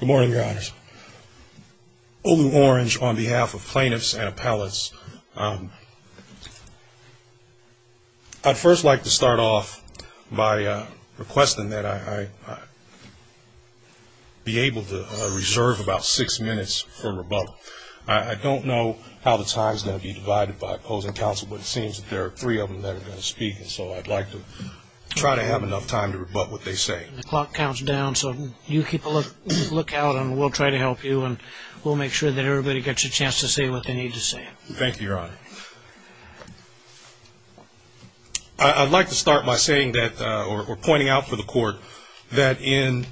Good morning, your honors. Olu Orange on behalf of plaintiffs and appellates. I'd first like to start off by requesting that I be able to reserve about six minutes for rebuttal. I don't know how the time is going to be divided by opposing counsel, but it seems that there are three of them that are going to speak, and so I'd like to try to have enough time to rebut what they say. The clock counts down, so you keep a lookout, and we'll try to help you, and we'll make sure that everybody gets a chance to say what they need to say. Thank you, your honor. I'd like to start by saying that, or pointing out for the court, that in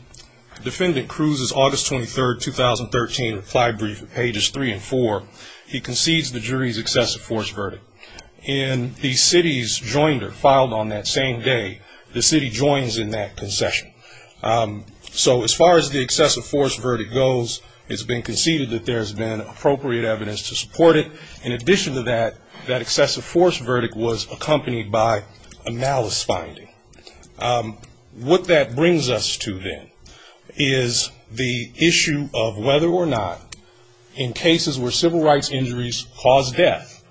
Defendant Cruz's August 23rd, 2013 reply brief, pages three and four, he concedes the jury's excessive force verdict. In the city's joinder, filed on that same day, the city joins in that concession. So as far as the excessive force verdict goes, it's been conceded that there's been appropriate evidence to support it. In addition to that, that excessive force verdict was accompanied by a malice finding. What that brings us to then is the issue of whether or not, in cases where civil rights injuries cause death,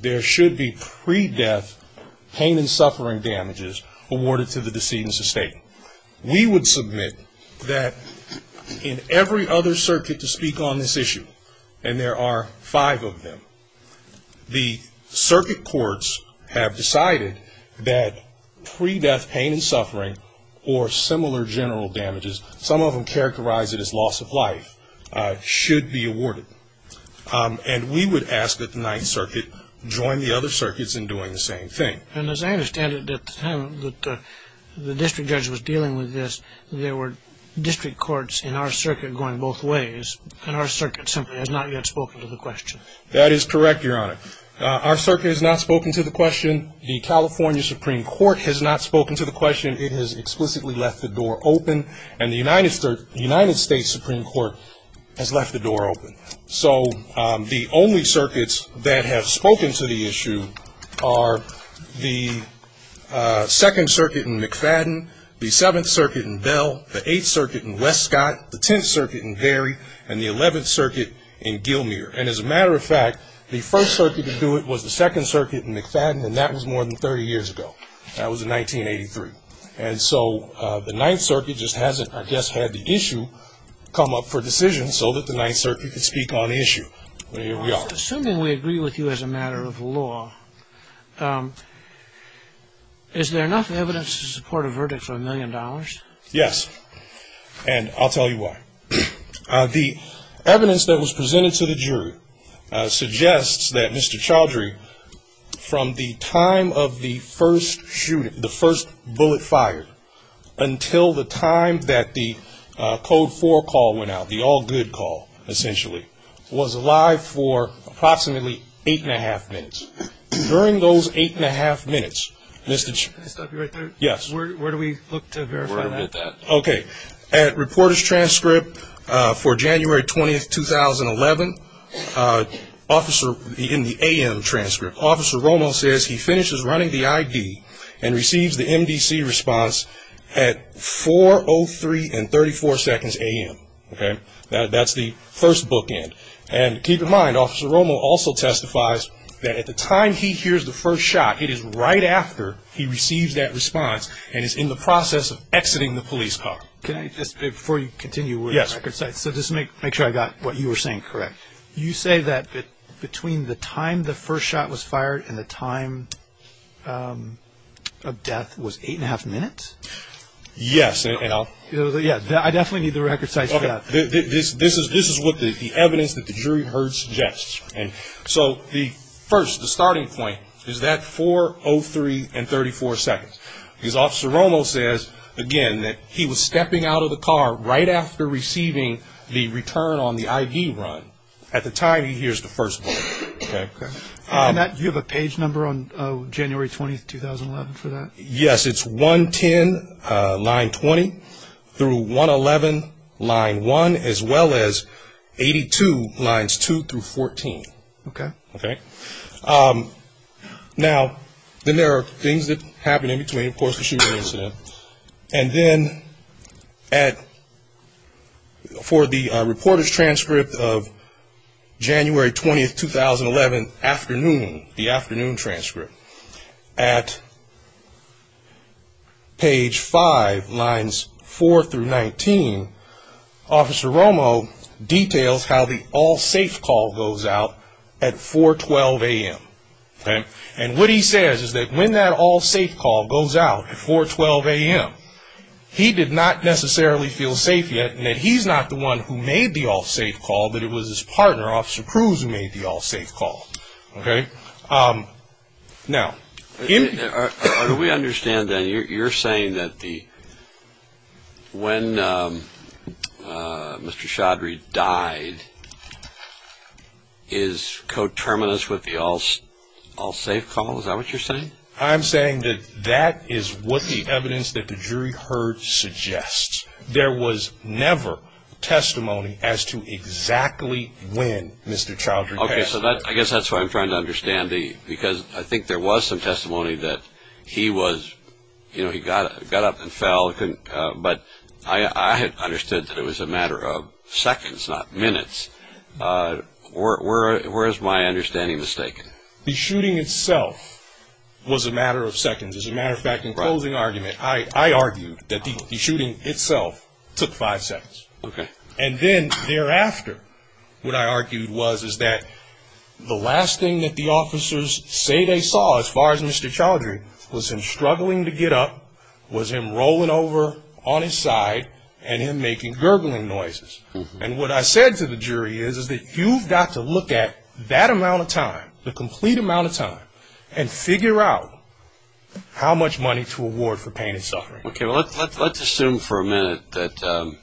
there should be pre-death pain and suffering damages awarded to the decedent's estate. We would submit that in every other circuit to speak on this issue, and there are five of them, the circuit courts have decided that pre-death pain and suffering, or similar general damages, some of them characterized as loss of life, should be awarded. And we would ask that the Ninth Circuit join the other circuits in doing the same thing. And as I understand it, at the time that the district judge was dealing with this, there were district courts in our circuit going both ways, and our circuit simply has not yet spoken to the question. That is correct, Your Honor. Our circuit has not spoken to the question. The California Supreme Court has not spoken to the question. It has explicitly left the door open, and the United States Supreme Court has left the door open. So the only circuits that have spoken to the issue are the Second Circuit in McFadden, the Seventh Circuit in Bell, the Eighth Circuit in Westcott, the Tenth Circuit in Vary, and the Eleventh Circuit in Gilmere. And as a matter of fact, the first circuit to do it was the Second Circuit in McFadden, and that was more than 30 years ago. That was in 1983. And so the Ninth Circuit just hasn't, I guess, had the issue come up for decision so that the Ninth Circuit could speak on the issue. Well, here we are. Assuming we agree with you as a matter of law, is there enough evidence to support a verdict for a million dollars? Yes, and I'll tell you why. The evidence that was presented to the jury suggests that Mr. Chaudhry, from the time of the first shooting, the first bullet fired until the time that the Code 4 call went out, the all good call, essentially, was alive for approximately eight and a half minutes. During those eight and a half minutes, Mr. Chaudhry. Can I stop you right there? Yes. Where do we look to verify that? Where do we look at that? Okay. At reporter's transcript for January 20th, 2011, in the AM transcript, Officer Romo says he finishes running the ID and receives the MDC response at 4.03 and 34 seconds AM. Okay? That's the first bookend. And keep in mind, Officer Romo also testifies that at the time he hears the first shot, it is right after he receives that response and is in the process of exiting the police car. Can I just, before you continue with the record sites, so just to make sure I got what you were saying correct, you say that between the time the first shot was fired and the time of death was eight and a half minutes? Yes. I definitely need the record sites for that. This is what the evidence that the jury heard suggests. So the first, the starting point, is that 4.03 and 34 seconds. Because Officer Romo says, again, that he was stepping out of the car right after receiving the return on the ID run. At the time he hears the first bullet. Okay? Do you have a page number on January 20th, 2011, for that? Yes, it's 110, line 20, through 111, line 1, as well as 82, lines 2 through 14. Okay. Okay? Now, then there are things that happen in between, of course, the shooting incident. And then for the reporter's transcript of January 20th, 2011, afternoon, the afternoon transcript, at page 5, lines 4 through 19, Officer Romo details how the all safe call goes out at 4.12 a.m. And what he says is that when that all safe call goes out at 4.12 a.m., he did not necessarily feel safe yet, and that he's not the one who made the all safe call, but it was his partner, Officer Cruz, who made the all safe call. Okay? Now, do we understand, then, you're saying that when Mr. Chaudhry died, is coterminous with the all safe call? Is that what you're saying? I'm saying that that is what the evidence that the jury heard suggests. There was never testimony as to exactly when Mr. Chaudhry died. Okay, so I guess that's what I'm trying to understand, because I think there was some testimony that he was, you know, he got up and fell, but I understood that it was a matter of seconds, not minutes. Where is my understanding mistaken? The shooting itself was a matter of seconds. As a matter of fact, in closing argument, I argued that the shooting itself took five seconds. Okay. And then thereafter, what I argued was, is that the last thing that the officers say they saw, as far as Mr. Chaudhry, was him struggling to get up, was him rolling over on his side, and him making gurgling noises. And what I said to the jury is, is that you've got to look at that amount of time, the complete amount of time, and figure out how much money to award for pain and suffering. Okay, well, let's assume for a minute that,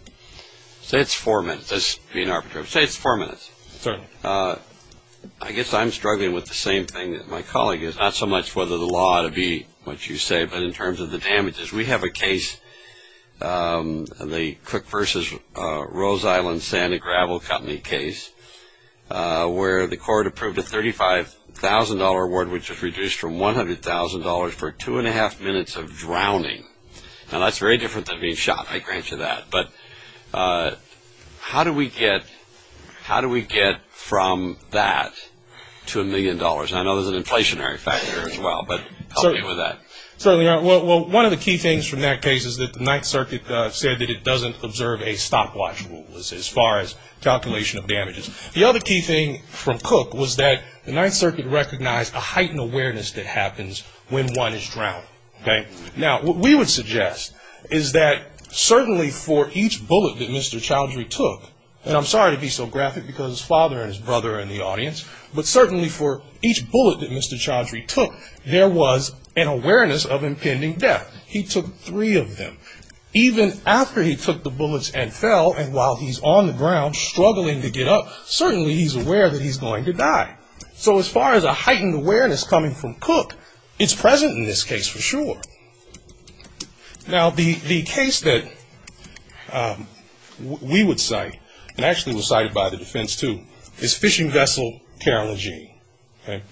say it's four minutes. Let's be an arbitrator. Say it's four minutes. Certainly. I guess I'm struggling with the same thing that my colleague is. Not so much whether the law ought to be what you say, but in terms of the damages. We have a case, the Cook v. Rose Island Sand and Gravel Company case, where the court approved a $35,000 award, which was reduced from $100,000 for two and a half minutes of drowning. Now, that's very different than being shot, I grant you that. But how do we get from that to a million dollars? I know there's an inflationary factor as well, but help me with that. Certainly. Well, one of the key things from that case is that the Ninth Circuit said that it doesn't observe a stopwatch rule, as far as calculation of damages. The other key thing from Cook was that the Ninth Circuit recognized a heightened awareness that happens when one is drowned. Okay? Now, what we would suggest is that certainly for each bullet that Mr. Chaudhry took, and I'm sorry to be so graphic because his father and his brother are in the audience, but certainly for each bullet that Mr. Chaudhry took, there was an awareness of impending death. He took three of them. Even after he took the bullets and fell, and while he's on the ground struggling to get up, certainly he's aware that he's going to die. So as far as a heightened awareness coming from Cook, it's present in this case for sure. Now, the case that we would cite, and actually was cited by the defense too, is Fishing Vessel Carol and Jean. Okay?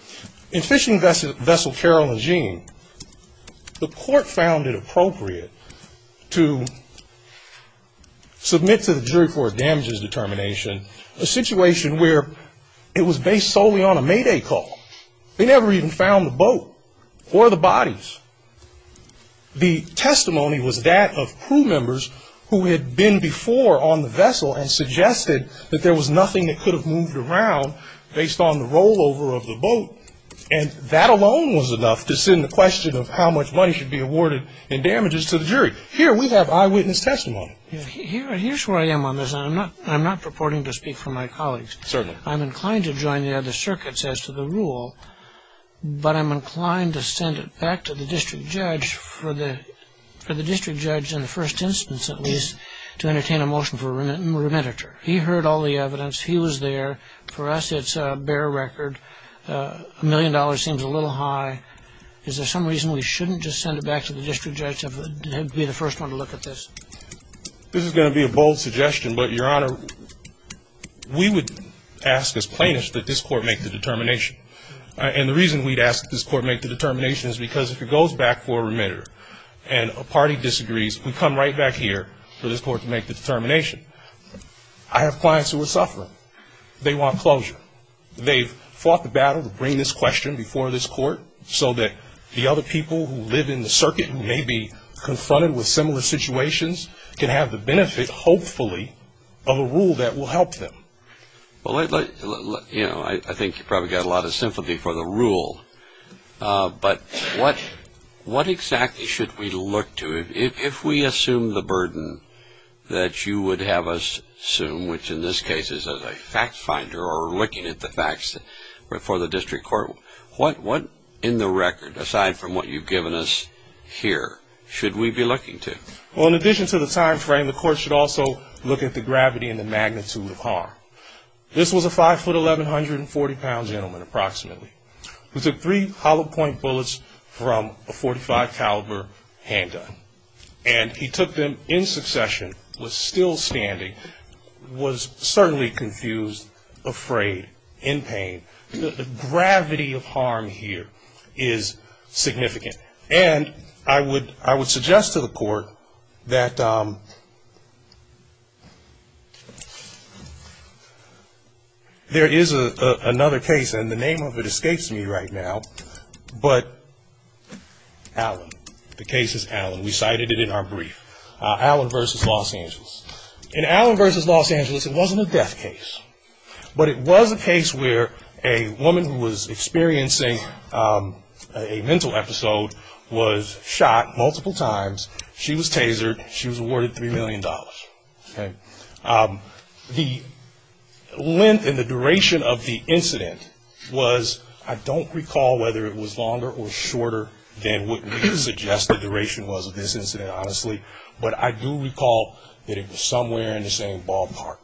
In Fishing Vessel Carol and Jean, the court found it appropriate to submit to the jury for damages determination a situation where it was based solely on a mayday call. They never even found the boat or the bodies. The testimony was that of crew members who had been before on the vessel and suggested that there was nothing that could have moved around based on the rollover of the boat, and that alone was enough to send the question of how much money should be awarded in damages to the jury. Here we have eyewitness testimony. Here's where I am on this, and I'm not purporting to speak for my colleagues. Certainly. I'm inclined to join the other circuits as to the rule, but I'm inclined to send it back to the district judge for the district judge in the first instance, at least, to entertain a motion for a remitter. He heard all the evidence. He was there. For us, it's a bare record. A million dollars seems a little high. Is there some reason we shouldn't just send it back to the district judge and be the first one to look at this? This is going to be a bold suggestion, but, Your Honor, we would ask as plaintiffs that this court make the determination, and the reason we'd ask that this court make the determination is because if it goes back for a remitter and a party disagrees, we come right back here for this court to make the determination. I have clients who are suffering. They want closure. They've fought the battle to bring this question before this court so that the other people who live in the circuit who may be confronted with similar situations can have the benefit, hopefully, of a rule that will help them. Well, you know, I think you probably got a lot of sympathy for the rule, but what exactly should we look to? If we assume the burden that you would have us assume, which in this case is as a fact finder or looking at the facts before the district court, what in the record, aside from what you've given us here, should we be looking to? Well, in addition to the time frame, the court should also look at the gravity and the magnitude of harm. This was a 5'11", 140-pound gentleman, approximately, who took three hollow-point bullets from a .45-caliber handgun. And he took them in succession, was still standing, was certainly confused, afraid, in pain. The gravity of harm here is significant. And I would suggest to the court that there is another case, and the name of it escapes me right now, but Allen. The case is Allen. We cited it in our brief, Allen v. Los Angeles. In Allen v. Los Angeles, it wasn't a death case, but it was a case where a woman who was experiencing a mental episode was shot multiple times. She was tasered. She was awarded $3 million. The length and the duration of the incident was, I don't recall whether it was longer or shorter than what we suggest the duration was of this incident, honestly, but I do recall that it was somewhere in the same ballpark.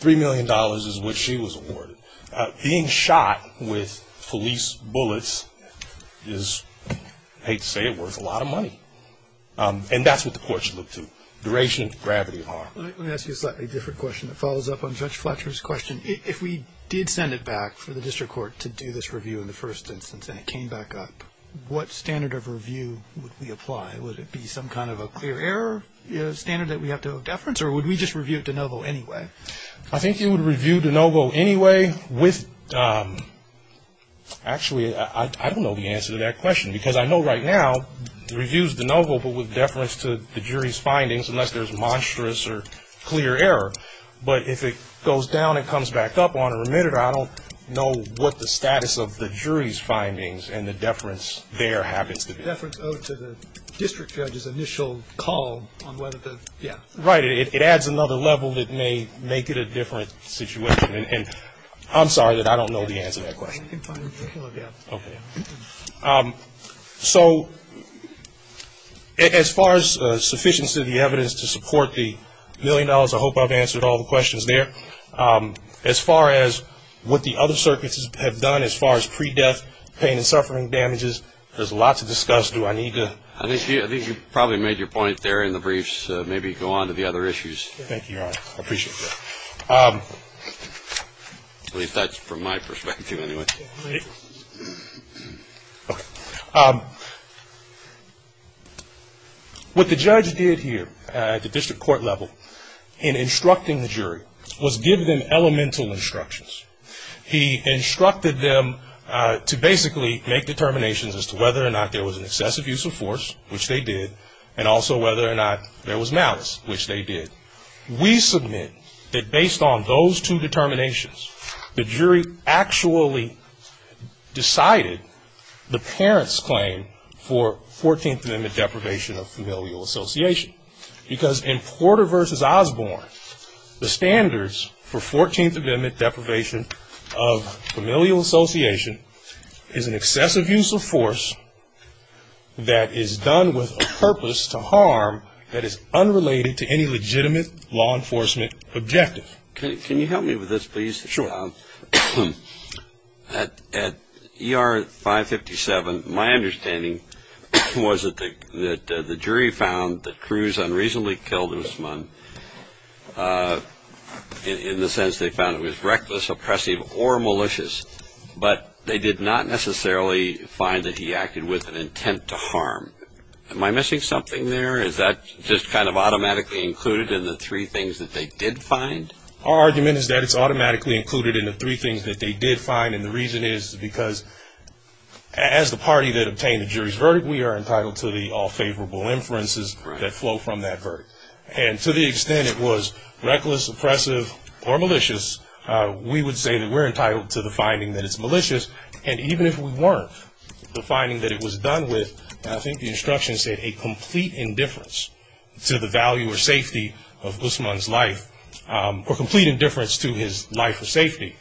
$3 million is what she was awarded. Being shot with police bullets is, I hate to say it, worth a lot of money. And that's what the courts should look to, duration, gravity of harm. Let me ask you a slightly different question that follows up on Judge Fletcher's question. If we did send it back for the district court to do this review in the first instance and it came back up, what standard of review would we apply? Would it be some kind of a clear error standard that we have to have deference, or would we just review it de novo anyway? I think you would review it de novo anyway with, actually, I don't know the answer to that question, because I know right now reviews de novo but with deference to the jury's findings, unless there's monstrous or clear error. But if it goes down and comes back up on a remitter, I don't know what the status of the jury's findings and the deference there happens to be. The deference owed to the district judge's initial call on whether to, yeah. Right. It adds another level that may make it a different situation. And I'm sorry that I don't know the answer to that question. Okay. So as far as sufficiency of the evidence to support the million dollars, I hope I've answered all the questions there. As far as what the other circuits have done, as far as pre-death pain and suffering damages, there's a lot to discuss. Do I need to? I think you probably made your point there in the briefs. Maybe go on to the other issues. Thank you, Your Honor. I appreciate that. At least that's from my perspective anyway. Okay. What the judge did here at the district court level in instructing the jury was give them elemental instructions. He instructed them to basically make determinations as to whether or not there was an excessive use of force, which they did, and also whether or not there was malice, which they did. We submit that based on those two determinations, the jury actually decided the parent's claim for 14th Amendment deprivation of familial association. Because in Porter v. Osborne, the standards for 14th Amendment deprivation of familial association is an excessive use of force that is done with a purpose to harm that is unrelated to any legitimate law enforcement objective. Can you help me with this, please? Sure. At ER 557, my understanding was that the jury found that Cruz unreasonably killed Osborne, in the sense they found it was reckless, oppressive, or malicious, but they did not necessarily find that he acted with an intent to harm. Am I missing something there? Is that just kind of automatically included in the three things that they did find? Our argument is that it's automatically included in the three things that they did find, and the reason is because as the party that obtained the jury's verdict, we are entitled to the all-favorable inferences that flow from that verdict. And to the extent it was reckless, oppressive, or malicious, we would say that we're entitled to the finding that it's malicious, and even if we weren't, the finding that it was done with, I think the instruction said a complete indifference to the value or safety of Osborne's life or complete indifference to his life or safety,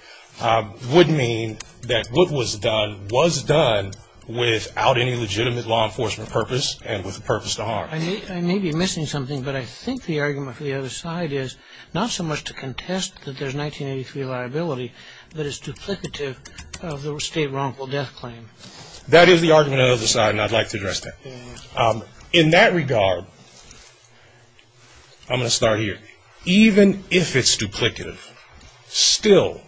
would mean that what was done was done without any legitimate law enforcement purpose and with a purpose to harm. I may be missing something, but I think the argument for the other side is not so much to contest that there's 1983 liability, but it's duplicative of the state wrongful death claim. That is the argument on the other side, and I'd like to address that. In that regard, I'm going to start here. Even if it's duplicative, still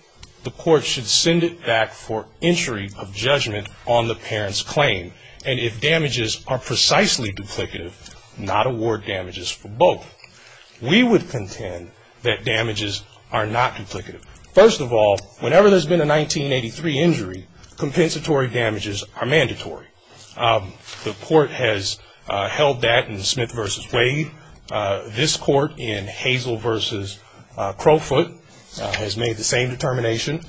the court should send it back for entry of judgment on the parent's claim, and if damages are precisely duplicative, not award damages for both. We would contend that damages are not duplicative. First of all, whenever there's been a 1983 injury, compensatory damages are mandatory. The court has held that in Smith v. Wade. This court in Hazel v. Crowfoot has made the same determination.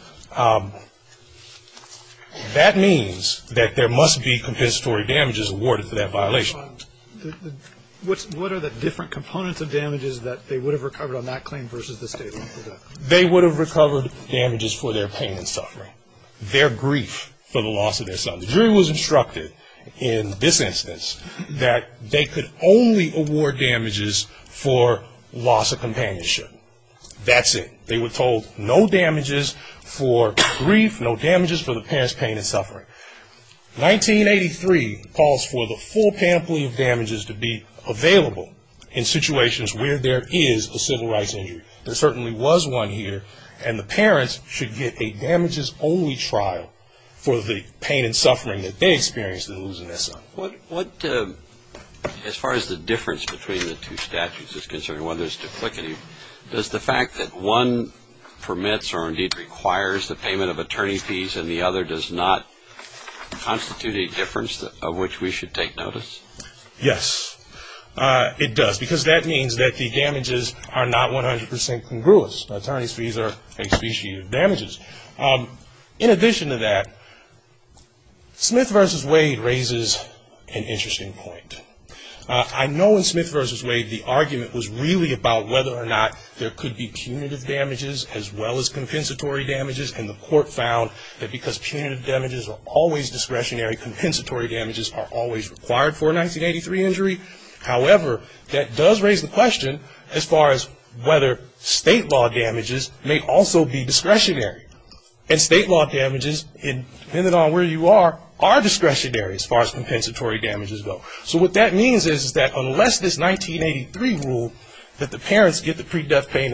That means that there must be compensatory damages awarded for that violation. What are the different components of damages that they would have recovered on that claim versus the state wrongful death? They would have recovered damages for their pain and suffering, their grief for the loss of their son. The jury was instructed in this instance that they could only award damages for loss of companionship. That's it. They were told no damages for grief, no damages for the parent's pain and suffering. 1983 calls for the full panoply of damages to be available in situations where there is a civil rights injury. There certainly was one here. And the parents should get a damages-only trial for the pain and suffering that they experienced in losing their son. As far as the difference between the two statutes is concerned, one that is duplicative, does the fact that one permits or indeed requires the payment of attorney fees and the other does not constitute a difference of which we should take notice? Yes, it does, because that means that the damages are not 100 percent congruous. Attorney's fees are a species of damages. In addition to that, Smith v. Wade raises an interesting point. I know in Smith v. Wade the argument was really about whether or not there could be punitive damages as well as compensatory damages, and the court found that because punitive damages are always discretionary, compensatory damages are always required for a 1983 injury. However, that does raise the question as far as whether state law damages may also be discretionary. And state law damages, depending on where you are, are discretionary as far as compensatory damages go. So what that means is that unless this 1983 rule that the parents get the pain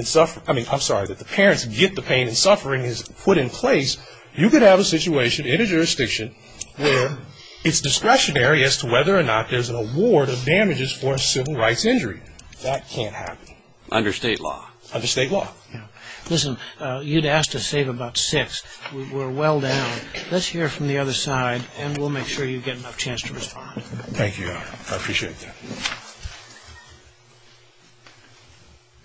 and suffering is put in place, you could have a situation in a jurisdiction where it's discretionary as to whether or not there's an award of damages for a civil rights injury. That can't happen. Under state law? Under state law. Listen, you'd ask to save about six. We're well down. Let's hear from the other side, and we'll make sure you get enough chance to respond. Thank you, Your Honor. I appreciate that.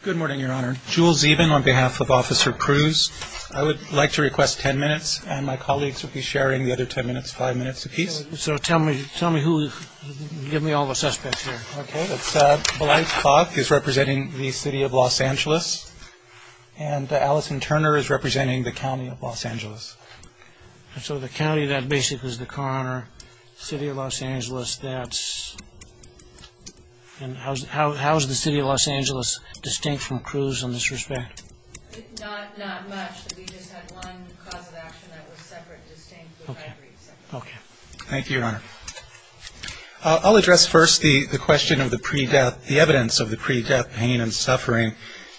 Good morning, Your Honor. Jules Zeeben on behalf of Officer Cruz. I would like to request 10 minutes, and my colleagues will be sharing the other 10 minutes, five minutes apiece. So tell me who you're going to give me all the suspects here. Okay. Blythe Cough is representing the city of Los Angeles. And Allison Turner is representing the county of Los Angeles. So the county, that basically is the coroner. City of Los Angeles, that's. And how is the city of Los Angeles distinct from Cruz in this respect? Not much. We just had one cause of action that was separate, distinct, but I agree. Okay. Thank you, Your Honor. I'll address first the question of the pre-death, the evidence of the pre-death pain and suffering.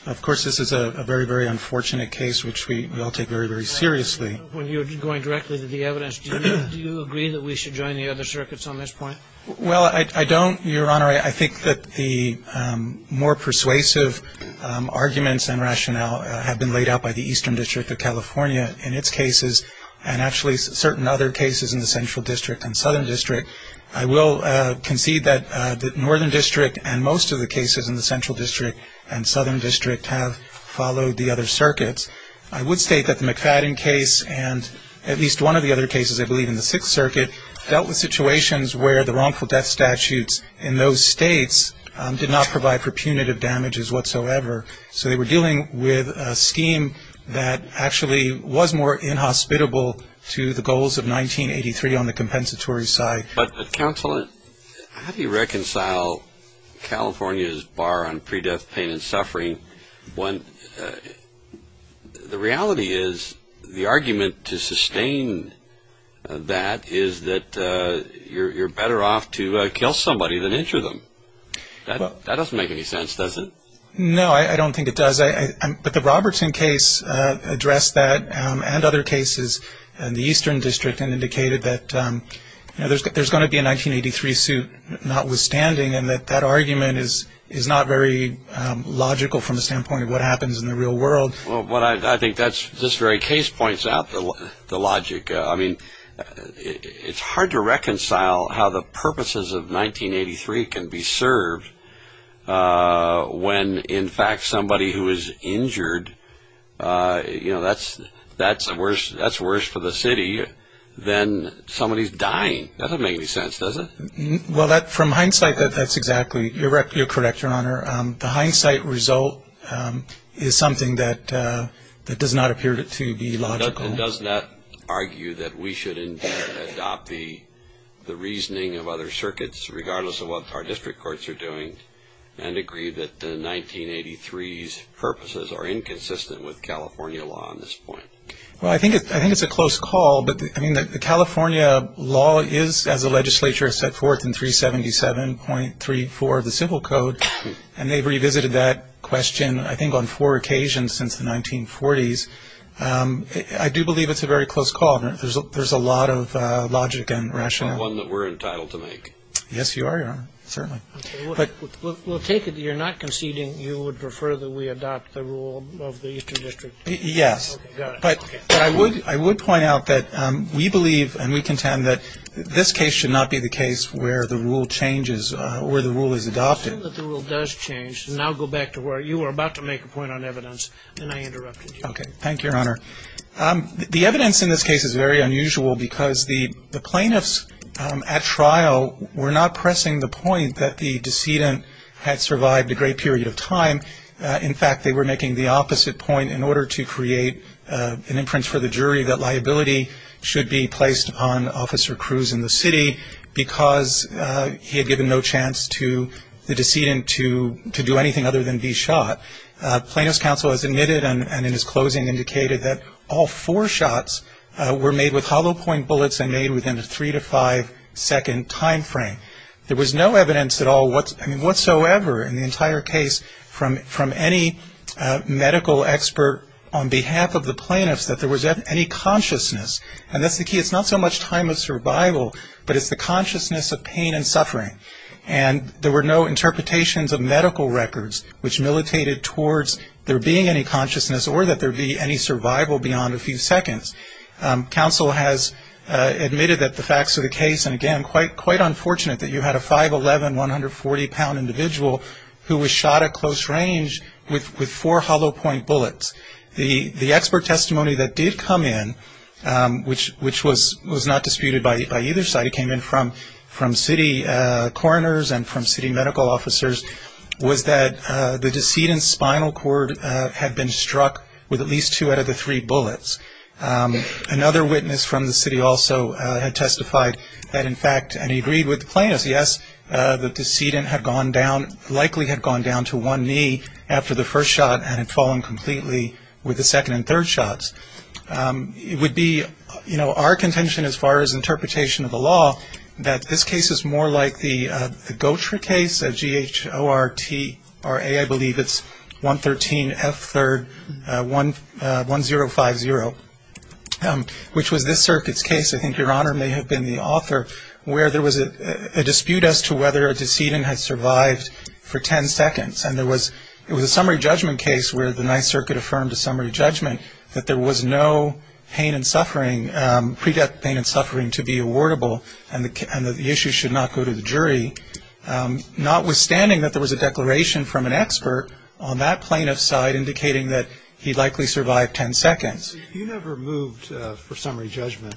Of course, this is a very, very unfortunate case, which we all take very, very seriously. When you're going directly to the evidence, do you agree that we should join the other circuits on this point? Well, I don't, Your Honor. I think that the more persuasive arguments and rationale have been laid out by the Eastern District of California in its cases and actually certain other cases in the Central District and Southern District. I will concede that the Northern District and most of the cases in the Central District and Southern District have followed the other circuits. I would state that the McFadden case and at least one of the other cases, I believe, in the Sixth Circuit, dealt with situations where the wrongful death statutes in those states did not provide for punitive damages whatsoever. So they were dealing with a scheme that actually was more inhospitable to the goals of 1983 on the compensatory side. But, Counselor, how do you reconcile California's bar on pre-death pain and suffering when the reality is the argument to sustain that is that you're better off to kill somebody than injure them. That doesn't make any sense, does it? No, I don't think it does. But the Robertson case addressed that and other cases in the Eastern District and indicated that there's going to be a 1983 suit notwithstanding and that that argument is not very logical from the standpoint of what happens in the real world. Well, I think this very case points out the logic. I mean, it's hard to reconcile how the purposes of 1983 can be served when, in fact, somebody who is injured, you know, that's worse for the city than somebody dying. That doesn't make any sense, does it? Well, from hindsight, that's exactly. You're correct, Your Honor. The hindsight result is something that does not appear to be logical. It does not argue that we should adopt the reasoning of other circuits, regardless of what our district courts are doing, and agree that 1983's purposes are inconsistent with California law on this point. Well, I think it's a close call, but, I mean, the California law is, as the legislature has set forth in 377.34 of the Civil Code, and they've revisited that question, I think, on four occasions since the 1940s. I do believe it's a very close call. There's a lot of logic and rationale. It's not one that we're entitled to make. Yes, you are, Your Honor, certainly. We'll take it that you're not conceding you would prefer that we adopt the rule of the district. Yes. Okay, got it. But I would point out that we believe, and we contend, that this case should not be the case where the rule changes, where the rule is adopted. The rule does change. Now go back to where you were about to make a point on evidence, and I interrupted you. Okay. Thank you, Your Honor. The evidence in this case is very unusual, because the plaintiffs at trial were not pressing the point that the decedent had survived a great period of time. In fact, they were making the opposite point in order to create an inference for the jury that liability should be placed on Officer Cruz in the city, because he had given no chance to the decedent to do anything other than be shot. Plaintiffs' counsel has admitted, and in his closing indicated, that all four shots were made with hollow-point bullets and made within a three- to five-second time frame. There was no evidence at all whatsoever in the entire case from any medical expert on behalf of the plaintiffs that there was any consciousness, and that's the key. It's not so much time of survival, but it's the consciousness of pain and suffering. And there were no interpretations of medical records, which militated towards there being any consciousness or that there be any survival beyond a few seconds. Counsel has admitted that the facts of the case, and again, quite unfortunate that you had a 5'11", 140-pound individual who was shot at close range with four hollow-point bullets. The expert testimony that did come in, which was not disputed by either side, but it came in from city coroners and from city medical officers, was that the decedent's spinal cord had been struck with at least two out of the three bullets. Another witness from the city also had testified that, in fact, and he agreed with the plaintiffs, yes, the decedent likely had gone down to one knee after the first shot and had fallen completely with the second and third shots. It would be, you know, our contention as far as interpretation of the law, that this case is more like the Gortra case, G-H-O-R-T-R-A, I believe it's 113-F-3-1-0-5-0, which was this circuit's case, I think Your Honor may have been the author, where there was a dispute as to whether a decedent had survived for ten seconds. And there was a summary judgment case where the Ninth Circuit affirmed a summary judgment that there was no pain and suffering, pre-death pain and suffering to be awardable and that the issue should not go to the jury, notwithstanding that there was a declaration from an expert on that plaintiff's side indicating that he likely survived ten seconds. You never moved for summary judgment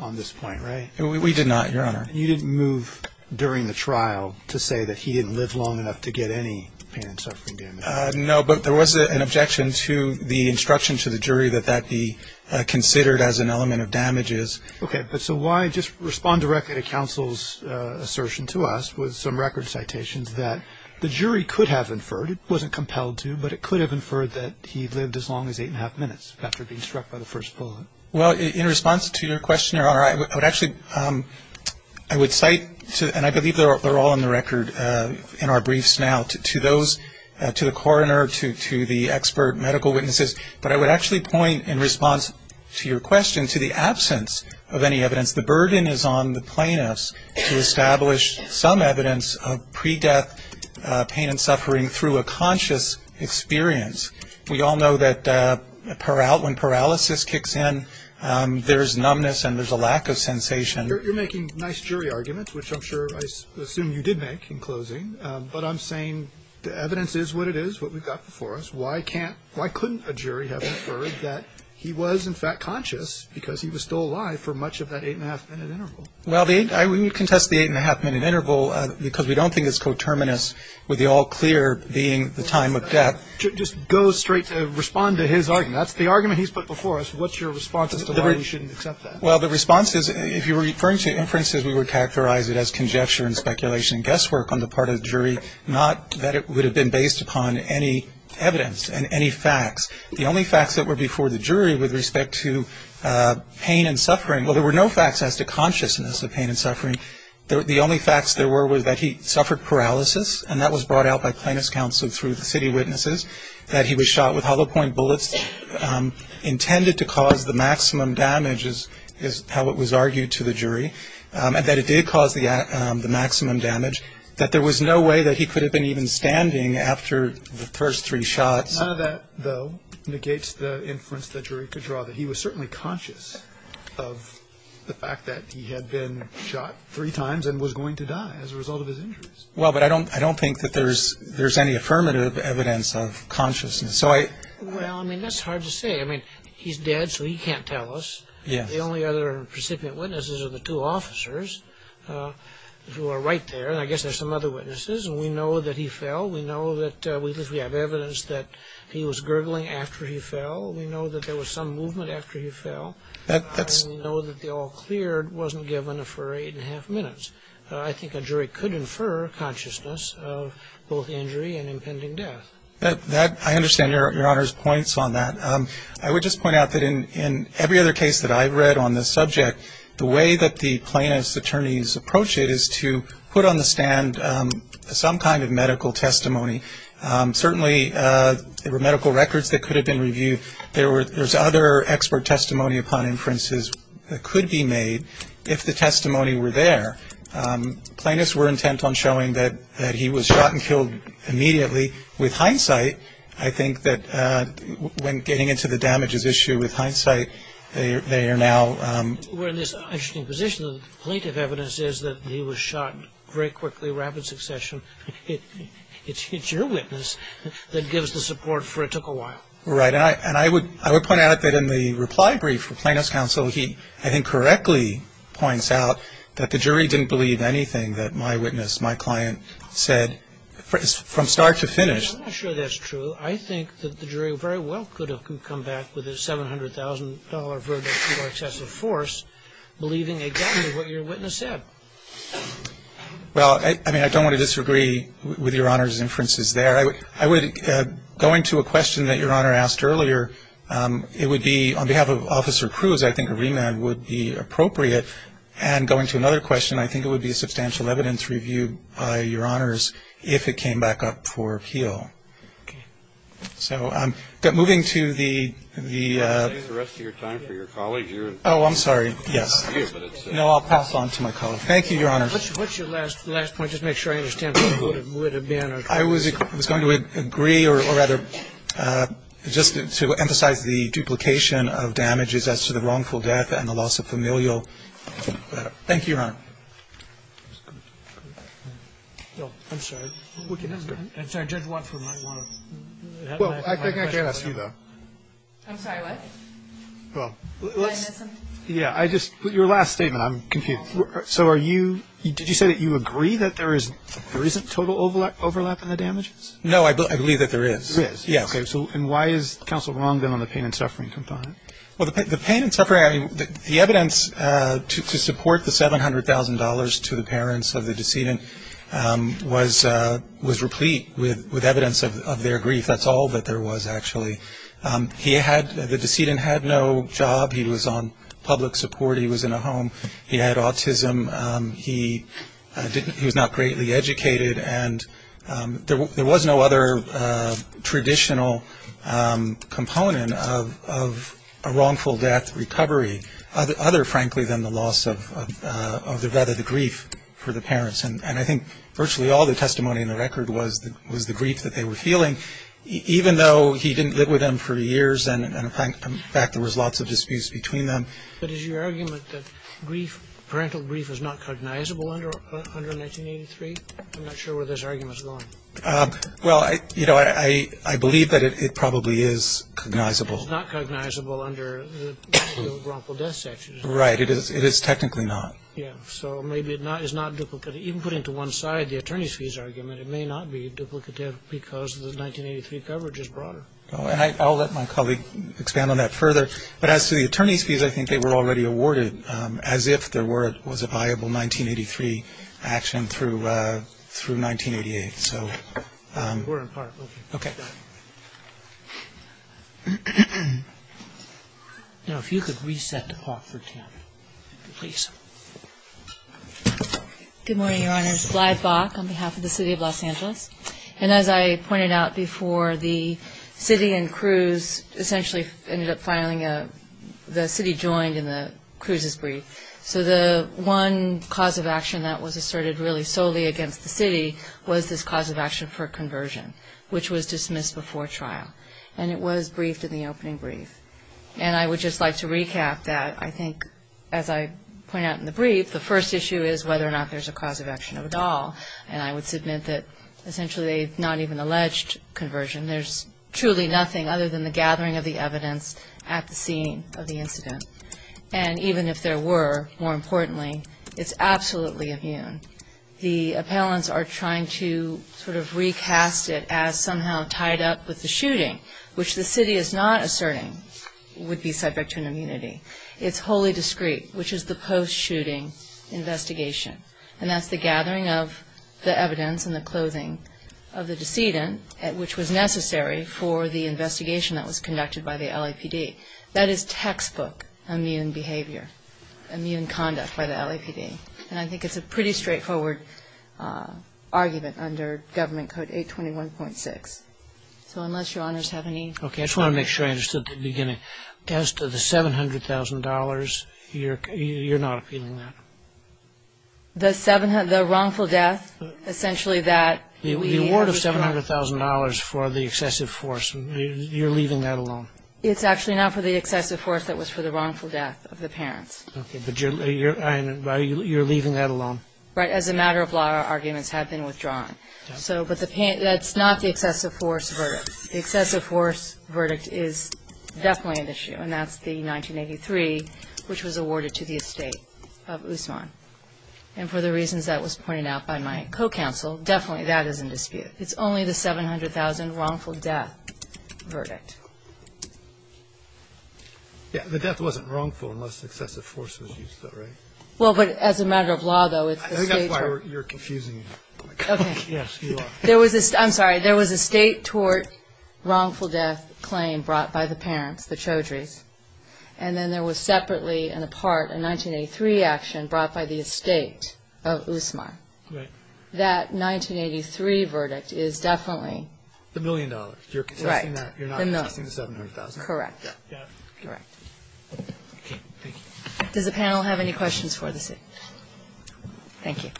on this point, right? We did not, Your Honor. You didn't move during the trial to say that he didn't live long enough to get any pain and suffering damage? No, but there was an objection to the instruction to the jury that that be considered as an element of damages. Okay. But so why just respond directly to counsel's assertion to us with some record citations that the jury could have inferred, it wasn't compelled to, but it could have inferred that he lived as long as eight and a half minutes after being struck by the first bullet? Well, in response to your question, Your Honor, I would actually cite, and I believe they're all on the record in our briefs now, to those, to the coroner, to the expert medical witnesses, but I would actually point in response to your question to the absence of any evidence. The burden is on the plaintiffs to establish some evidence of pre-death pain and suffering through a conscious experience. We all know that when paralysis kicks in, there's numbness and there's a lack of sensation. You're making nice jury arguments, which I'm sure I assume you did make in closing, but I'm saying the evidence is what it is, what we've got before us. Why couldn't a jury have inferred that he was in fact conscious because he was still alive for much of that eight and a half minute interval? Well, we contest the eight and a half minute interval because we don't think it's coterminous with the all clear being the time of death. Just go straight to respond to his argument. That's the argument he's put before us. What's your response as to why we shouldn't accept that? Well, the response is if you're referring to inferences, we would characterize it as conjecture and speculation and guesswork on the part of the jury, not that it would have been based upon any evidence and any facts. The only facts that were before the jury with respect to pain and suffering, well, there were no facts as to consciousness of pain and suffering. The only facts there were was that he suffered paralysis, and that was brought out by plaintiff's counsel through the city witnesses, that he was shot with hollow point bullets intended to cause the maximum damage, is how it was argued to the jury, and that it did cause the maximum damage, that there was no way that he could have been even standing after the first three shots. None of that, though, negates the inference the jury could draw, that he was certainly conscious of the fact that he had been shot three times and was going to die as a result of his injuries. Well, but I don't think that there's any affirmative evidence of consciousness. Well, I mean, that's hard to say. I mean, he's dead, so he can't tell us. The only other recipient witnesses are the two officers who are right there, and I guess there's some other witnesses, and we know that he fell. We know that we have evidence that he was gurgling after he fell. We know that there was some movement after he fell. We know that the all-clear wasn't given for eight and a half minutes. I think a jury could infer consciousness of both injury and impending death. I understand Your Honor's points on that. I would just point out that in every other case that I've read on this subject, the way that the plaintiff's attorneys approach it is to put on the stand some kind of medical testimony. Certainly, there were medical records that could have been reviewed. There's other expert testimony upon inferences that could be made if the testimony were there. Plaintiffs were intent on showing that he was shot and killed immediately. With hindsight, I think that when getting into the damages issue, with hindsight, they are now... We're in this interesting position. The plaintiff's evidence is that he was shot very quickly, rapid succession. It's your witness that gives the support for it took a while. Right. And I would point out that in the reply brief for Plaintiff's counsel, he I think correctly points out that the jury didn't believe anything that my witness, my client, said from start to finish. I'm not sure that's true. I think that the jury very well could have come back with a $700,000 verdict for excessive force, believing exactly what your witness said. Well, I mean, I don't want to disagree with Your Honor's inferences there. I would go into a question that Your Honor asked earlier. It would be, on behalf of Officer Cruz, I think a remand would be appropriate. And going to another question, I think it would be a substantial evidence review by Your Honors if it came back up for appeal. Okay. So moving to the... I'll save the rest of your time for your colleagues. Oh, I'm sorry. Yes. No, I'll pass on to my colleague. Thank you, Your Honor. What's your last point? Just make sure I understand what it would have been. I was going to agree or rather just to emphasize the duplication of damages as to the wrongful death and the loss of familial... Thank you, Your Honor. I'm sorry. We can ask her. I'm sorry. Judge Watson might want to... Well, I can't ask you, though. I'm sorry, what? Well, let's... Yeah, I just... Your last statement. I'm confused. So are you... Did you say that you agree that there isn't total overlap in the damages? No, I believe that there is. There is? Yeah. Okay. And why is counsel wrong, then, on the pain and suffering component? Well, the pain and suffering... The evidence to support the $700,000 to the parents of the decedent was replete with evidence of their grief. That's all that there was, actually. He had... The decedent had no job. He was on public support. He was in a home. He had autism. He was not greatly educated. And there was no other traditional component of a wrongful death recovery, other, frankly, than the loss of rather the grief for the parents. And I think virtually all the testimony in the record was the grief that they were feeling, even though he didn't live with them for years, and, in fact, there was lots of disputes between them. But is your argument that grief, parental grief, is not cognizable under 1983? I'm not sure where this argument is going. Well, you know, I believe that it probably is cognizable. It's not cognizable under the wrongful death statute, is it? Right. It is technically not. Yeah. So maybe it is not duplicative. Even putting to one side the attorney's fees argument, it may not be duplicative because the 1983 coverage is broader. I'll let my colleague expand on that further. But as to the attorney's fees, I think they were already awarded as if there was a viable 1983 action through 1988. We're in part. Okay. Now, if you could reset to part 13, please. Good morning, Your Honors. Glyde Bock on behalf of the City of Los Angeles. And as I pointed out before, the city and Cruz essentially ended up filing a the city joined in the Cruz's brief. So the one cause of action that was asserted really solely against the city was this cause of action for conversion, which was dismissed before trial. And it was briefed in the opening brief. And I would just like to recap that I think, as I point out in the brief, the first issue is whether or not there's a cause of action at all. And I would submit that essentially they've not even alleged conversion. There's truly nothing other than the gathering of the evidence at the scene of the incident. And even if there were, more importantly, it's absolutely immune. The appellants are trying to sort of recast it as somehow tied up with the shooting, which the city is not asserting would be subject to an immunity. It's wholly discreet, which is the post-shooting investigation. And that's the gathering of the evidence and the clothing of the decedent, which was necessary for the investigation that was conducted by the LAPD. That is textbook immune behavior, immune conduct by the LAPD. And I think it's a pretty straightforward argument under Government Code 821.6. So unless Your Honors have any further questions. As to the $700,000, you're not appealing that? The wrongful death, essentially that. The award of $700,000 for the excessive force, you're leaving that alone? It's actually not for the excessive force, that was for the wrongful death of the parents. Okay, but you're leaving that alone? Right, as a matter of law, our arguments have been withdrawn. That's not the excessive force verdict. The excessive force verdict is definitely an issue, and that's the 1983, which was awarded to the estate of Usman. And for the reasons that was pointed out by my co-counsel, definitely that is in dispute. It's only the $700,000 wrongful death verdict. Yeah, the death wasn't wrongful unless excessive force was used, though, right? Well, but as a matter of law, though, it's the state. You're confusing me. Okay. Yes, you are. I'm sorry. There was a state tort wrongful death claim brought by the parents, the Chaudhry's, and then there was separately and apart a 1983 action brought by the estate of Usman. Right. That 1983 verdict is definitely. The million dollars. Right. You're not contesting the $700,000. Correct. Correct. Okay, thank you. Does the panel have any questions for the State? Thank you.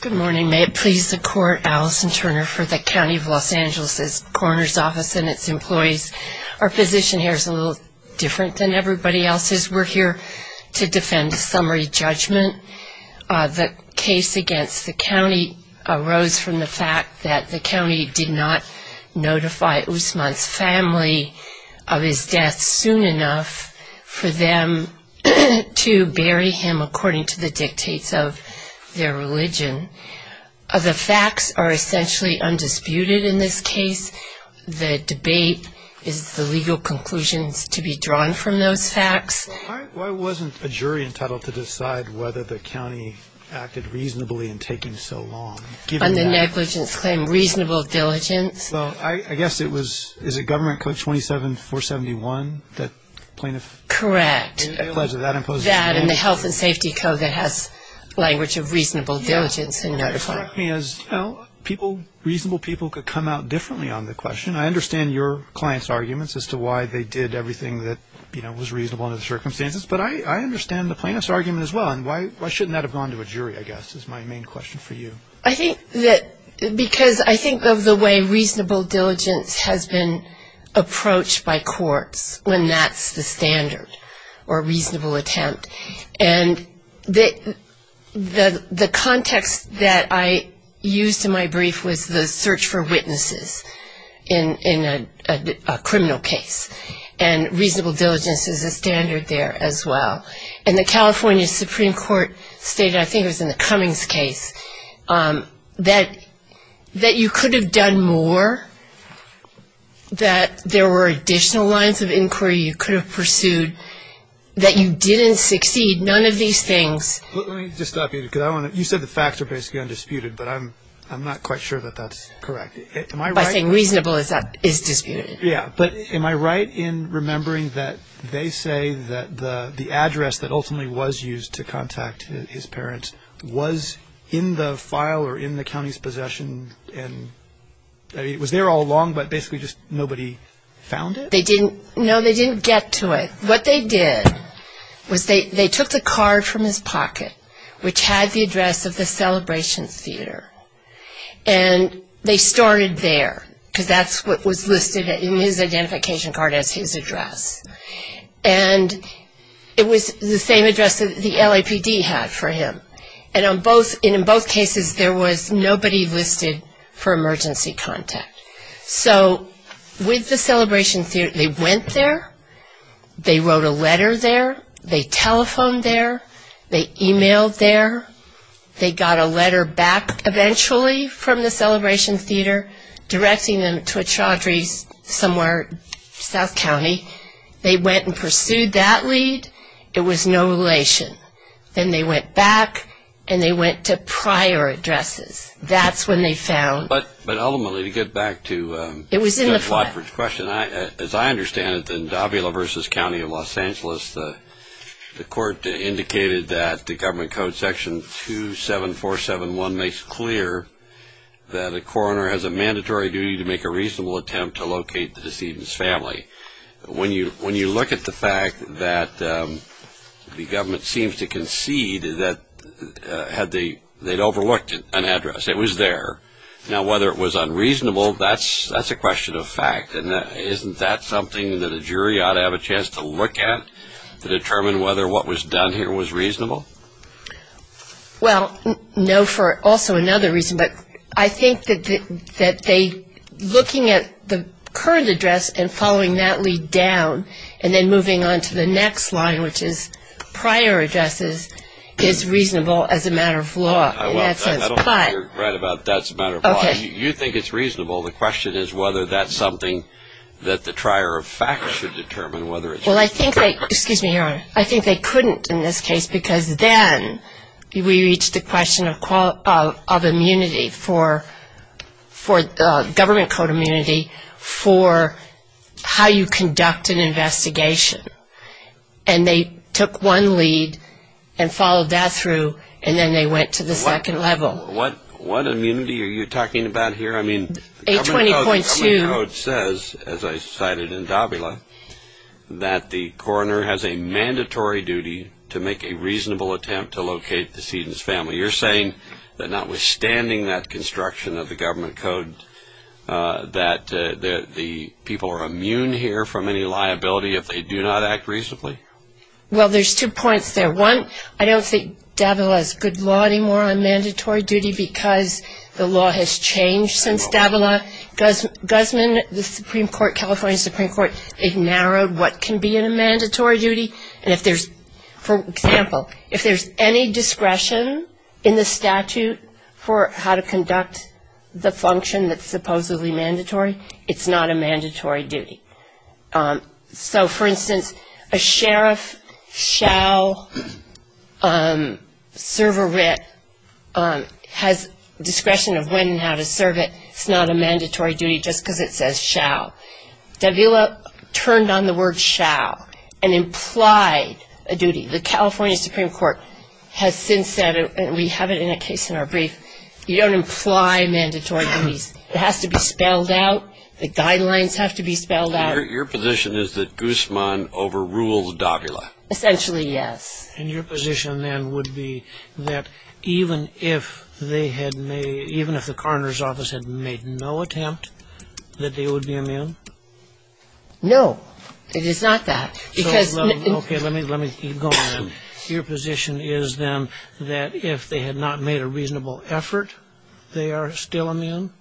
Good morning. May it please the Court, Alison Turner for the County of Los Angeles's Coroner's Office and its employees. Our position here is a little different than everybody else's. We're here to defend summary judgment. The case against the county arose from the fact that the county did not notify Usman's family of his death soon enough for them to bury him according to the dictates of their religion. The facts are essentially undisputed in this case. The debate is the legal conclusions to be drawn from those facts. Why wasn't a jury entitled to decide whether the county acted reasonably in taking so long? On the negligence claim, reasonable diligence. Well, I guess it was, is it Government Code 27471 that plaintiff? Correct. Allegedly that imposes. That and the Health and Safety Code that has language of reasonable diligence in notifying. You know, reasonable people could come out differently on the question. I understand your client's arguments as to why they did everything that, you know, was reasonable under the circumstances. But I understand the plaintiff's argument as well. And why shouldn't that have gone to a jury, I guess, is my main question for you. I think that because I think of the way reasonable diligence has been approached by courts when that's the standard or reasonable attempt. And the context that I used in my brief was the search for witnesses in a criminal case. And reasonable diligence is a standard there as well. And the California Supreme Court stated, I think it was in the Cummings case, that you could have done more, that there were additional lines of inquiry you could have pursued, that you didn't succeed, none of these things. Let me just stop you because you said the facts are basically undisputed, but I'm not quite sure that that's correct. Am I right? By saying reasonable is disputed. Yeah. But am I right in remembering that they say that the address that ultimately was used to contact his parents was in the file or in the county's possession and it was there all along, but basically just nobody found it? No, they didn't get to it. What they did was they took the card from his pocket, which had the address of the Celebration Theater, and they stored it there because that's what was listed in his identification card as his address. And it was the same address that the LAPD had for him. And in both cases, there was nobody listed for emergency contact. So with the Celebration Theater, they went there. They wrote a letter there. They telephoned there. They e-mailed there. They got a letter back eventually from the Celebration Theater directing them to a Chaudhry's somewhere in South County. They went and pursued that lead. It was no relation. Then they went back, and they went to prior addresses. That's when they found it. But ultimately, to get back to Judge Watford's question, as I understand it, in Davila versus County of Los Angeles, the court indicated that the Government Code Section 27471 makes clear that a coroner has a mandatory duty to make a reasonable attempt to locate the deceased's family. When you look at the fact that the government seems to concede that they'd overlooked an address, it was there. Now, whether it was unreasonable, that's a question of fact. Isn't that something that a jury ought to have a chance to look at to determine whether what was done here was reasonable? Well, no, for also another reason. But I think that looking at the current address and following that lead down and then moving on to the next line, which is prior addresses, is reasonable as a matter of law. Well, I don't know if you're right about that's a matter of law. You think it's reasonable. The question is whether that's something that the trier of fact should determine, whether it's reasonable. Well, I think they couldn't in this case because then we reached the question of immunity, government code immunity, for how you conduct an investigation. And they took one lead and followed that through, and then they went to the second level. What immunity are you talking about here? I mean, the government code says, as I cited in Davila, that the coroner has a mandatory duty to make a reasonable attempt to locate the deceased's family. You're saying that notwithstanding that construction of the government code, that the people are immune here from any liability if they do not act reasonably? Well, there's two points there. One, I don't think Davila is good law anymore on mandatory duty because the law has changed since Davila. Guzman, the Supreme Court, California Supreme Court, it narrowed what can be in a mandatory duty. For example, if there's any discretion in the statute for how to conduct the function that's supposedly mandatory, it's not a mandatory duty. So, for instance, a sheriff shall serve a writ, has discretion of when and how to serve it, it's not a mandatory duty just because it says shall. Davila turned on the word shall and implied a duty. The California Supreme Court has since said, and we have it in a case in our brief, you don't imply mandatory duties. It has to be spelled out. The guidelines have to be spelled out. Your position is that Guzman overruled Davila? Essentially, yes. And your position then would be that even if they had made, even if the coroner's office had made no attempt that they would be immune? No, it is not that. Okay, let me keep going then. Your position is then that if they had not made a reasonable effort, they are still immune?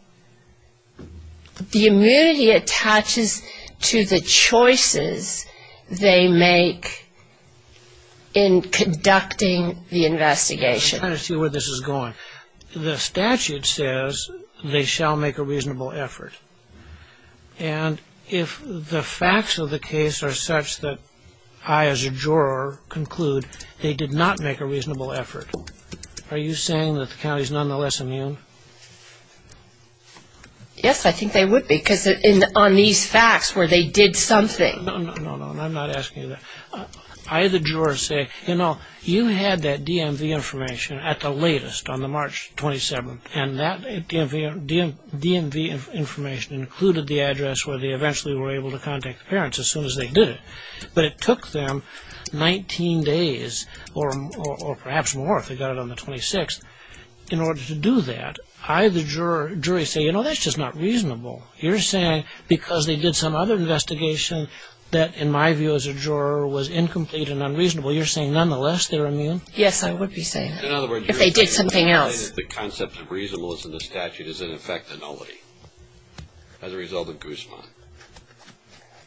The immunity attaches to the choices they make in conducting the investigation. I'm trying to see where this is going. The statute says they shall make a reasonable effort. And if the facts of the case are such that I as a juror conclude they did not make a reasonable effort, are you saying that the county is nonetheless immune? Yes, I think they would be because on these facts where they did something. No, no, no, I'm not asking you that. I, the juror, say, you know, you had that DMV information at the latest on the March 27th, and that DMV information included the address where they eventually were able to contact the parents as soon as they did it. But it took them 19 days or perhaps more if they got it on the 26th in order to do that. I, the jury, say, you know, that's just not reasonable. You're saying because they did some other investigation that, in my view as a juror, was incomplete and unreasonable, you're saying nonetheless they're immune? Yes, I would be saying that. In other words, you're saying that the concept of reasonableness in the statute is in effect a nullity as a result of Guzman.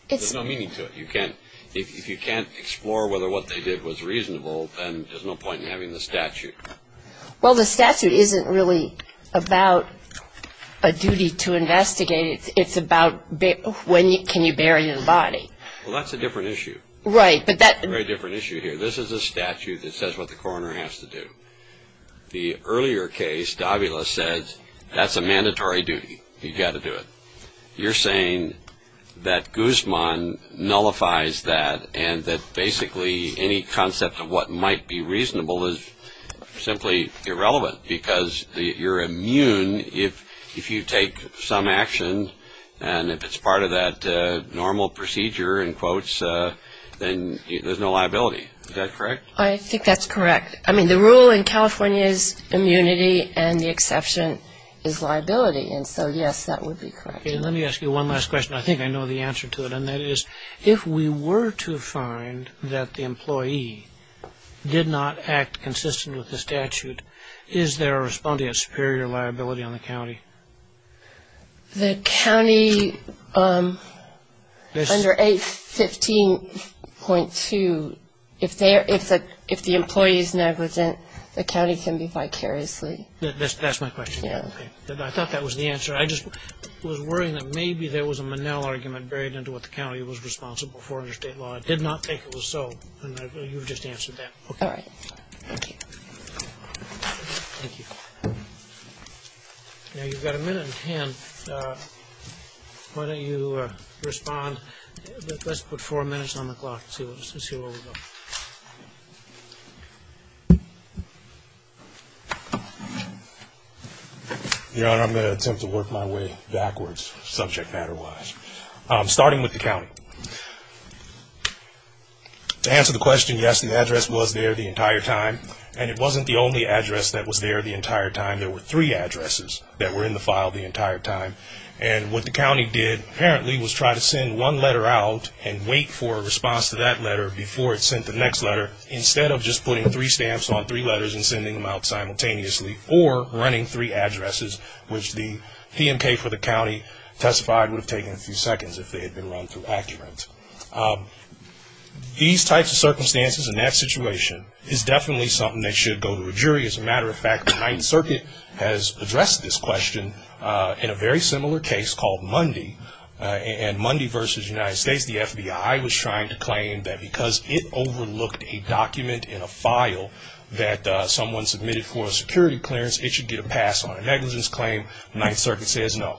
There's no meaning to it. If you can't explore whether what they did was reasonable, then there's no point in having the statute. Well, the statute isn't really about a duty to investigate. It's about when can you bury the body. Well, that's a different issue. Right. But that's a very different issue here. This is a statute that says what the coroner has to do. The earlier case, Davila, says that's a mandatory duty. You've got to do it. You're saying that Guzman nullifies that and that basically any concept of what might be reasonable is simply irrelevant because you're immune if you take some action and if it's part of that normal procedure, in quotes, then there's no liability. Is that correct? I think that's correct. I mean, the rule in California is immunity and the exception is liability. And so, yes, that would be correct. Okay. Let me ask you one last question. I think I know the answer to it. And that is if we were to find that the employee did not act consistent with the statute, is there a response to get superior liability on the county? The county under 815.2, if the employee is negligent, the county can be vicariously. That's my question. Yeah. Okay. I thought that was the answer. I just was worrying that maybe there was a Manel argument buried into what the county was responsible for under state law. I did not think it was so, and you've just answered that. All right. Thank you. Thank you. Now, you've got a minute in hand. Why don't you respond? Let's put four minutes on the clock and see where we go. Your Honor, I'm going to attempt to work my way backwards subject matter-wise. Starting with the county. To answer the question, yes, the address was there the entire time, and it wasn't the only address that was there the entire time. There were three addresses that were in the file the entire time. And what the county did, apparently, was try to send one letter out and wait for a response to that letter before it sent the next letter, instead of just putting three stamps on three letters and sending them out simultaneously or running three addresses, which the PMK for the county testified would have taken a few seconds if they had been run through accurate. These types of circumstances and that situation is definitely something that should go to a jury. As a matter of fact, the Ninth Circuit has addressed this question in a very similar case called Mundy, and Mundy versus the United States. The FBI was trying to claim that because it overlooked a document in a file that someone submitted for a security clearance, it should get a pass on a negligence claim. The Ninth Circuit says no.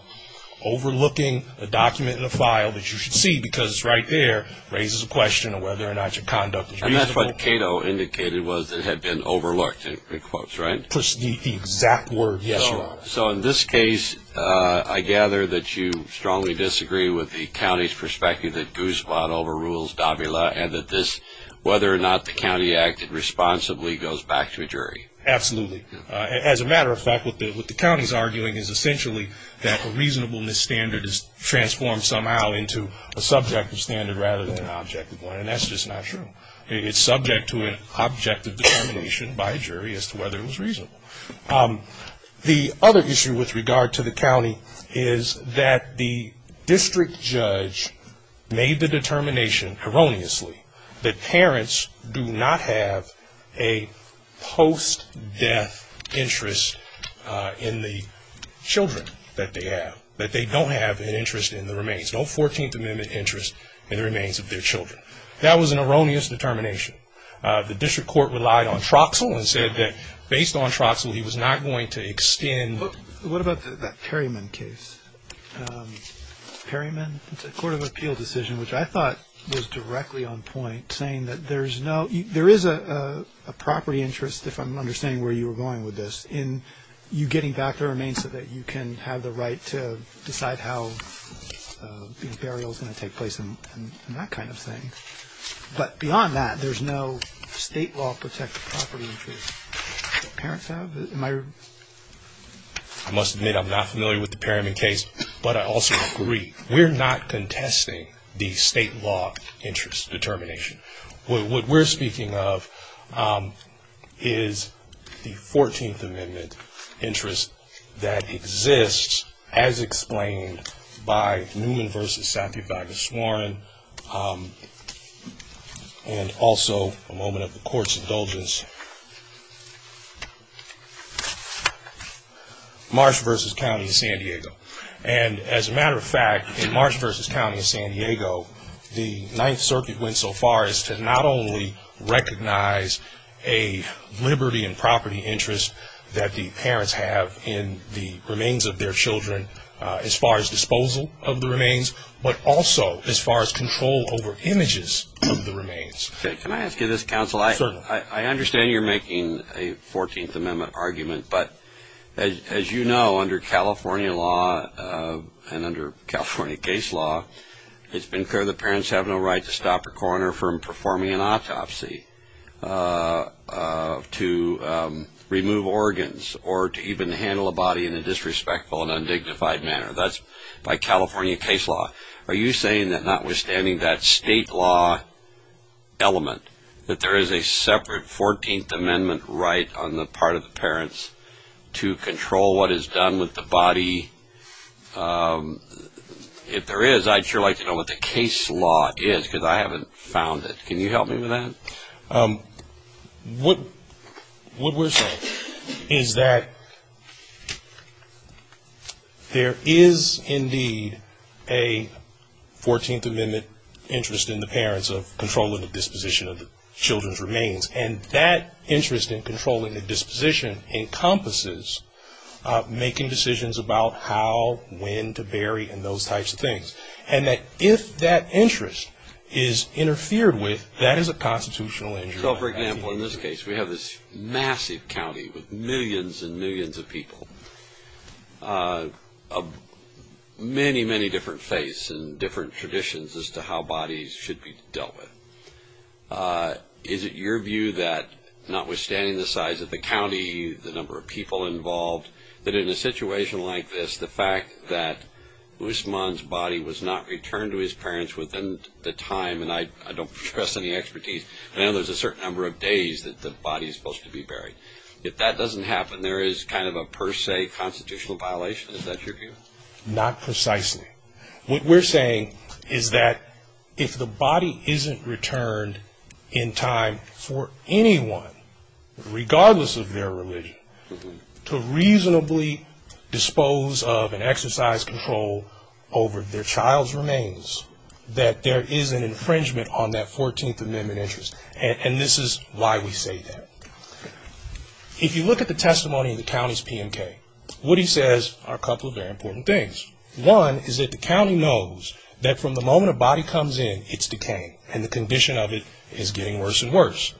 Overlooking a document in a file that you should see because it's right there raises a question of whether or not your conduct is reasonable. And that's what Cato indicated, was it had been overlooked, in quotes, right? The exact word, yes, Your Honor. So in this case, I gather that you strongly disagree with the county's perspective that Goose Bot overrules Davila and that this, whether or not the county acted responsibly, goes back to a jury. Absolutely. As a matter of fact, what the county's arguing is essentially that a reasonableness standard is transformed somehow into a subjective standard rather than an objective one, and that's just not true. It's subject to an objective determination by a jury as to whether it was reasonable. The other issue with regard to the county is that the district judge made the determination erroneously that parents do not have a post-death interest in the children that they have, that they don't have an interest in the remains, no 14th Amendment interest in the remains of their children. That was an erroneous determination. The district court relied on Troxell and said that based on Troxell, he was not going to extend. What about that Perryman case? Perryman? It's a court of appeal decision, which I thought was directly on point, saying that there is a property interest, if I'm understanding where you were going with this, in you getting back the remains so that you can have the right to decide how the burial is going to take place and that kind of thing. But beyond that, there's no state law protected property interest that parents have. I must admit I'm not familiar with the Perryman case, but I also agree. We're not contesting the state law interest determination. What we're speaking of is the 14th Amendment interest that exists, as explained by Newman v. Saffief Agus Warren, and also a moment of the court's indulgence, Marsh v. County of San Diego. As a matter of fact, in Marsh v. County of San Diego, the Ninth Circuit went so far as to not only recognize a liberty and property interest that the parents have in the remains of their children as far as disposal of the remains, but also as far as control over images of the remains. Can I ask you this, counsel? Certainly. I understand you're making a 14th Amendment argument, but as you know, under California law and under California case law, it's been clear that parents have no right to stop a coroner from performing an autopsy, to remove organs, or to even handle a body in a disrespectful and undignified manner. That's by California case law. Are you saying that notwithstanding that state law element, that there is a separate 14th Amendment right on the part of the parents to control what is done with the body? If there is, I'd sure like to know what the case law is, because I haven't found it. Can you help me with that? What we're saying is that there is indeed a 14th Amendment interest in the parents of controlling the disposition of the children's remains, and that interest in controlling the disposition encompasses making decisions about how, when to bury, and those types of things, and that if that interest is interfered with, that is a constitutional injury. So, for example, in this case, we have this massive county with millions and millions of people of many, many different faiths and different traditions as to how bodies should be dealt with. Is it your view that, notwithstanding the size of the county, the number of people involved, that in a situation like this, the fact that Usman's body was not returned to his parents within the time, and I don't trust any expertise, I know there's a certain number of days that the body is supposed to be buried. If that doesn't happen, there is kind of a per se constitutional violation. Is that your view? Not precisely. What we're saying is that if the body isn't returned in time for anyone, regardless of their religion, to reasonably dispose of and exercise control over their child's remains, that there is an infringement on that 14th Amendment interest, and this is why we say that. If you look at the testimony of the county's PMK, what he says are a couple of very important things. One is that the county knows that from the moment a body comes in, it's decaying, and the condition of it is getting worse and worse.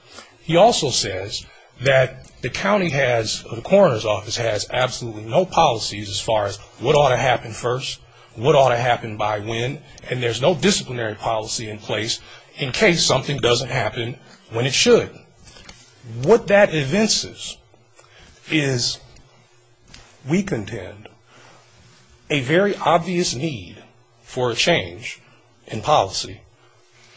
He also says that the county has, the coroner's office has absolutely no policies as far as what ought to happen first, what ought to happen by when, and there's no disciplinary policy in place in case something doesn't happen when it should. What that evinces is, we contend, a very obvious need for a change in policy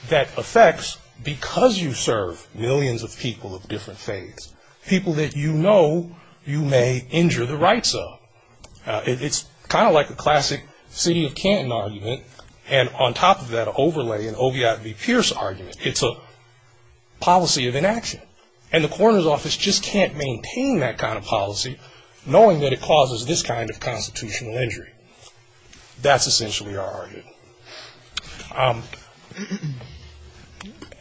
that affects, because you serve millions of people of different faiths, people that you know you may injure the rights of. It's kind of like a classic city of Canton argument, and on top of that overlay in Oviatt v. Pierce argument, it's a policy of inaction, and the coroner's office just can't maintain that kind of policy, knowing that it causes this kind of constitutional injury. That's essentially our argument.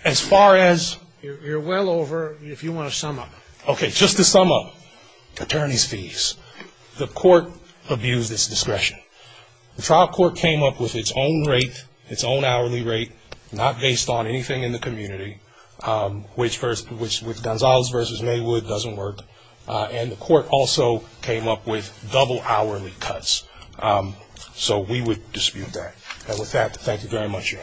As far as you're well over, if you want to sum up. Okay, just to sum up, attorney's fees, the court abused its discretion. The trial court came up with its own rate, its own hourly rate, not based on anything in the community, which with Gonzalez v. Maywood doesn't work, and the court also came up with double hourly cuts. So we would dispute that. And with that, thank you very much.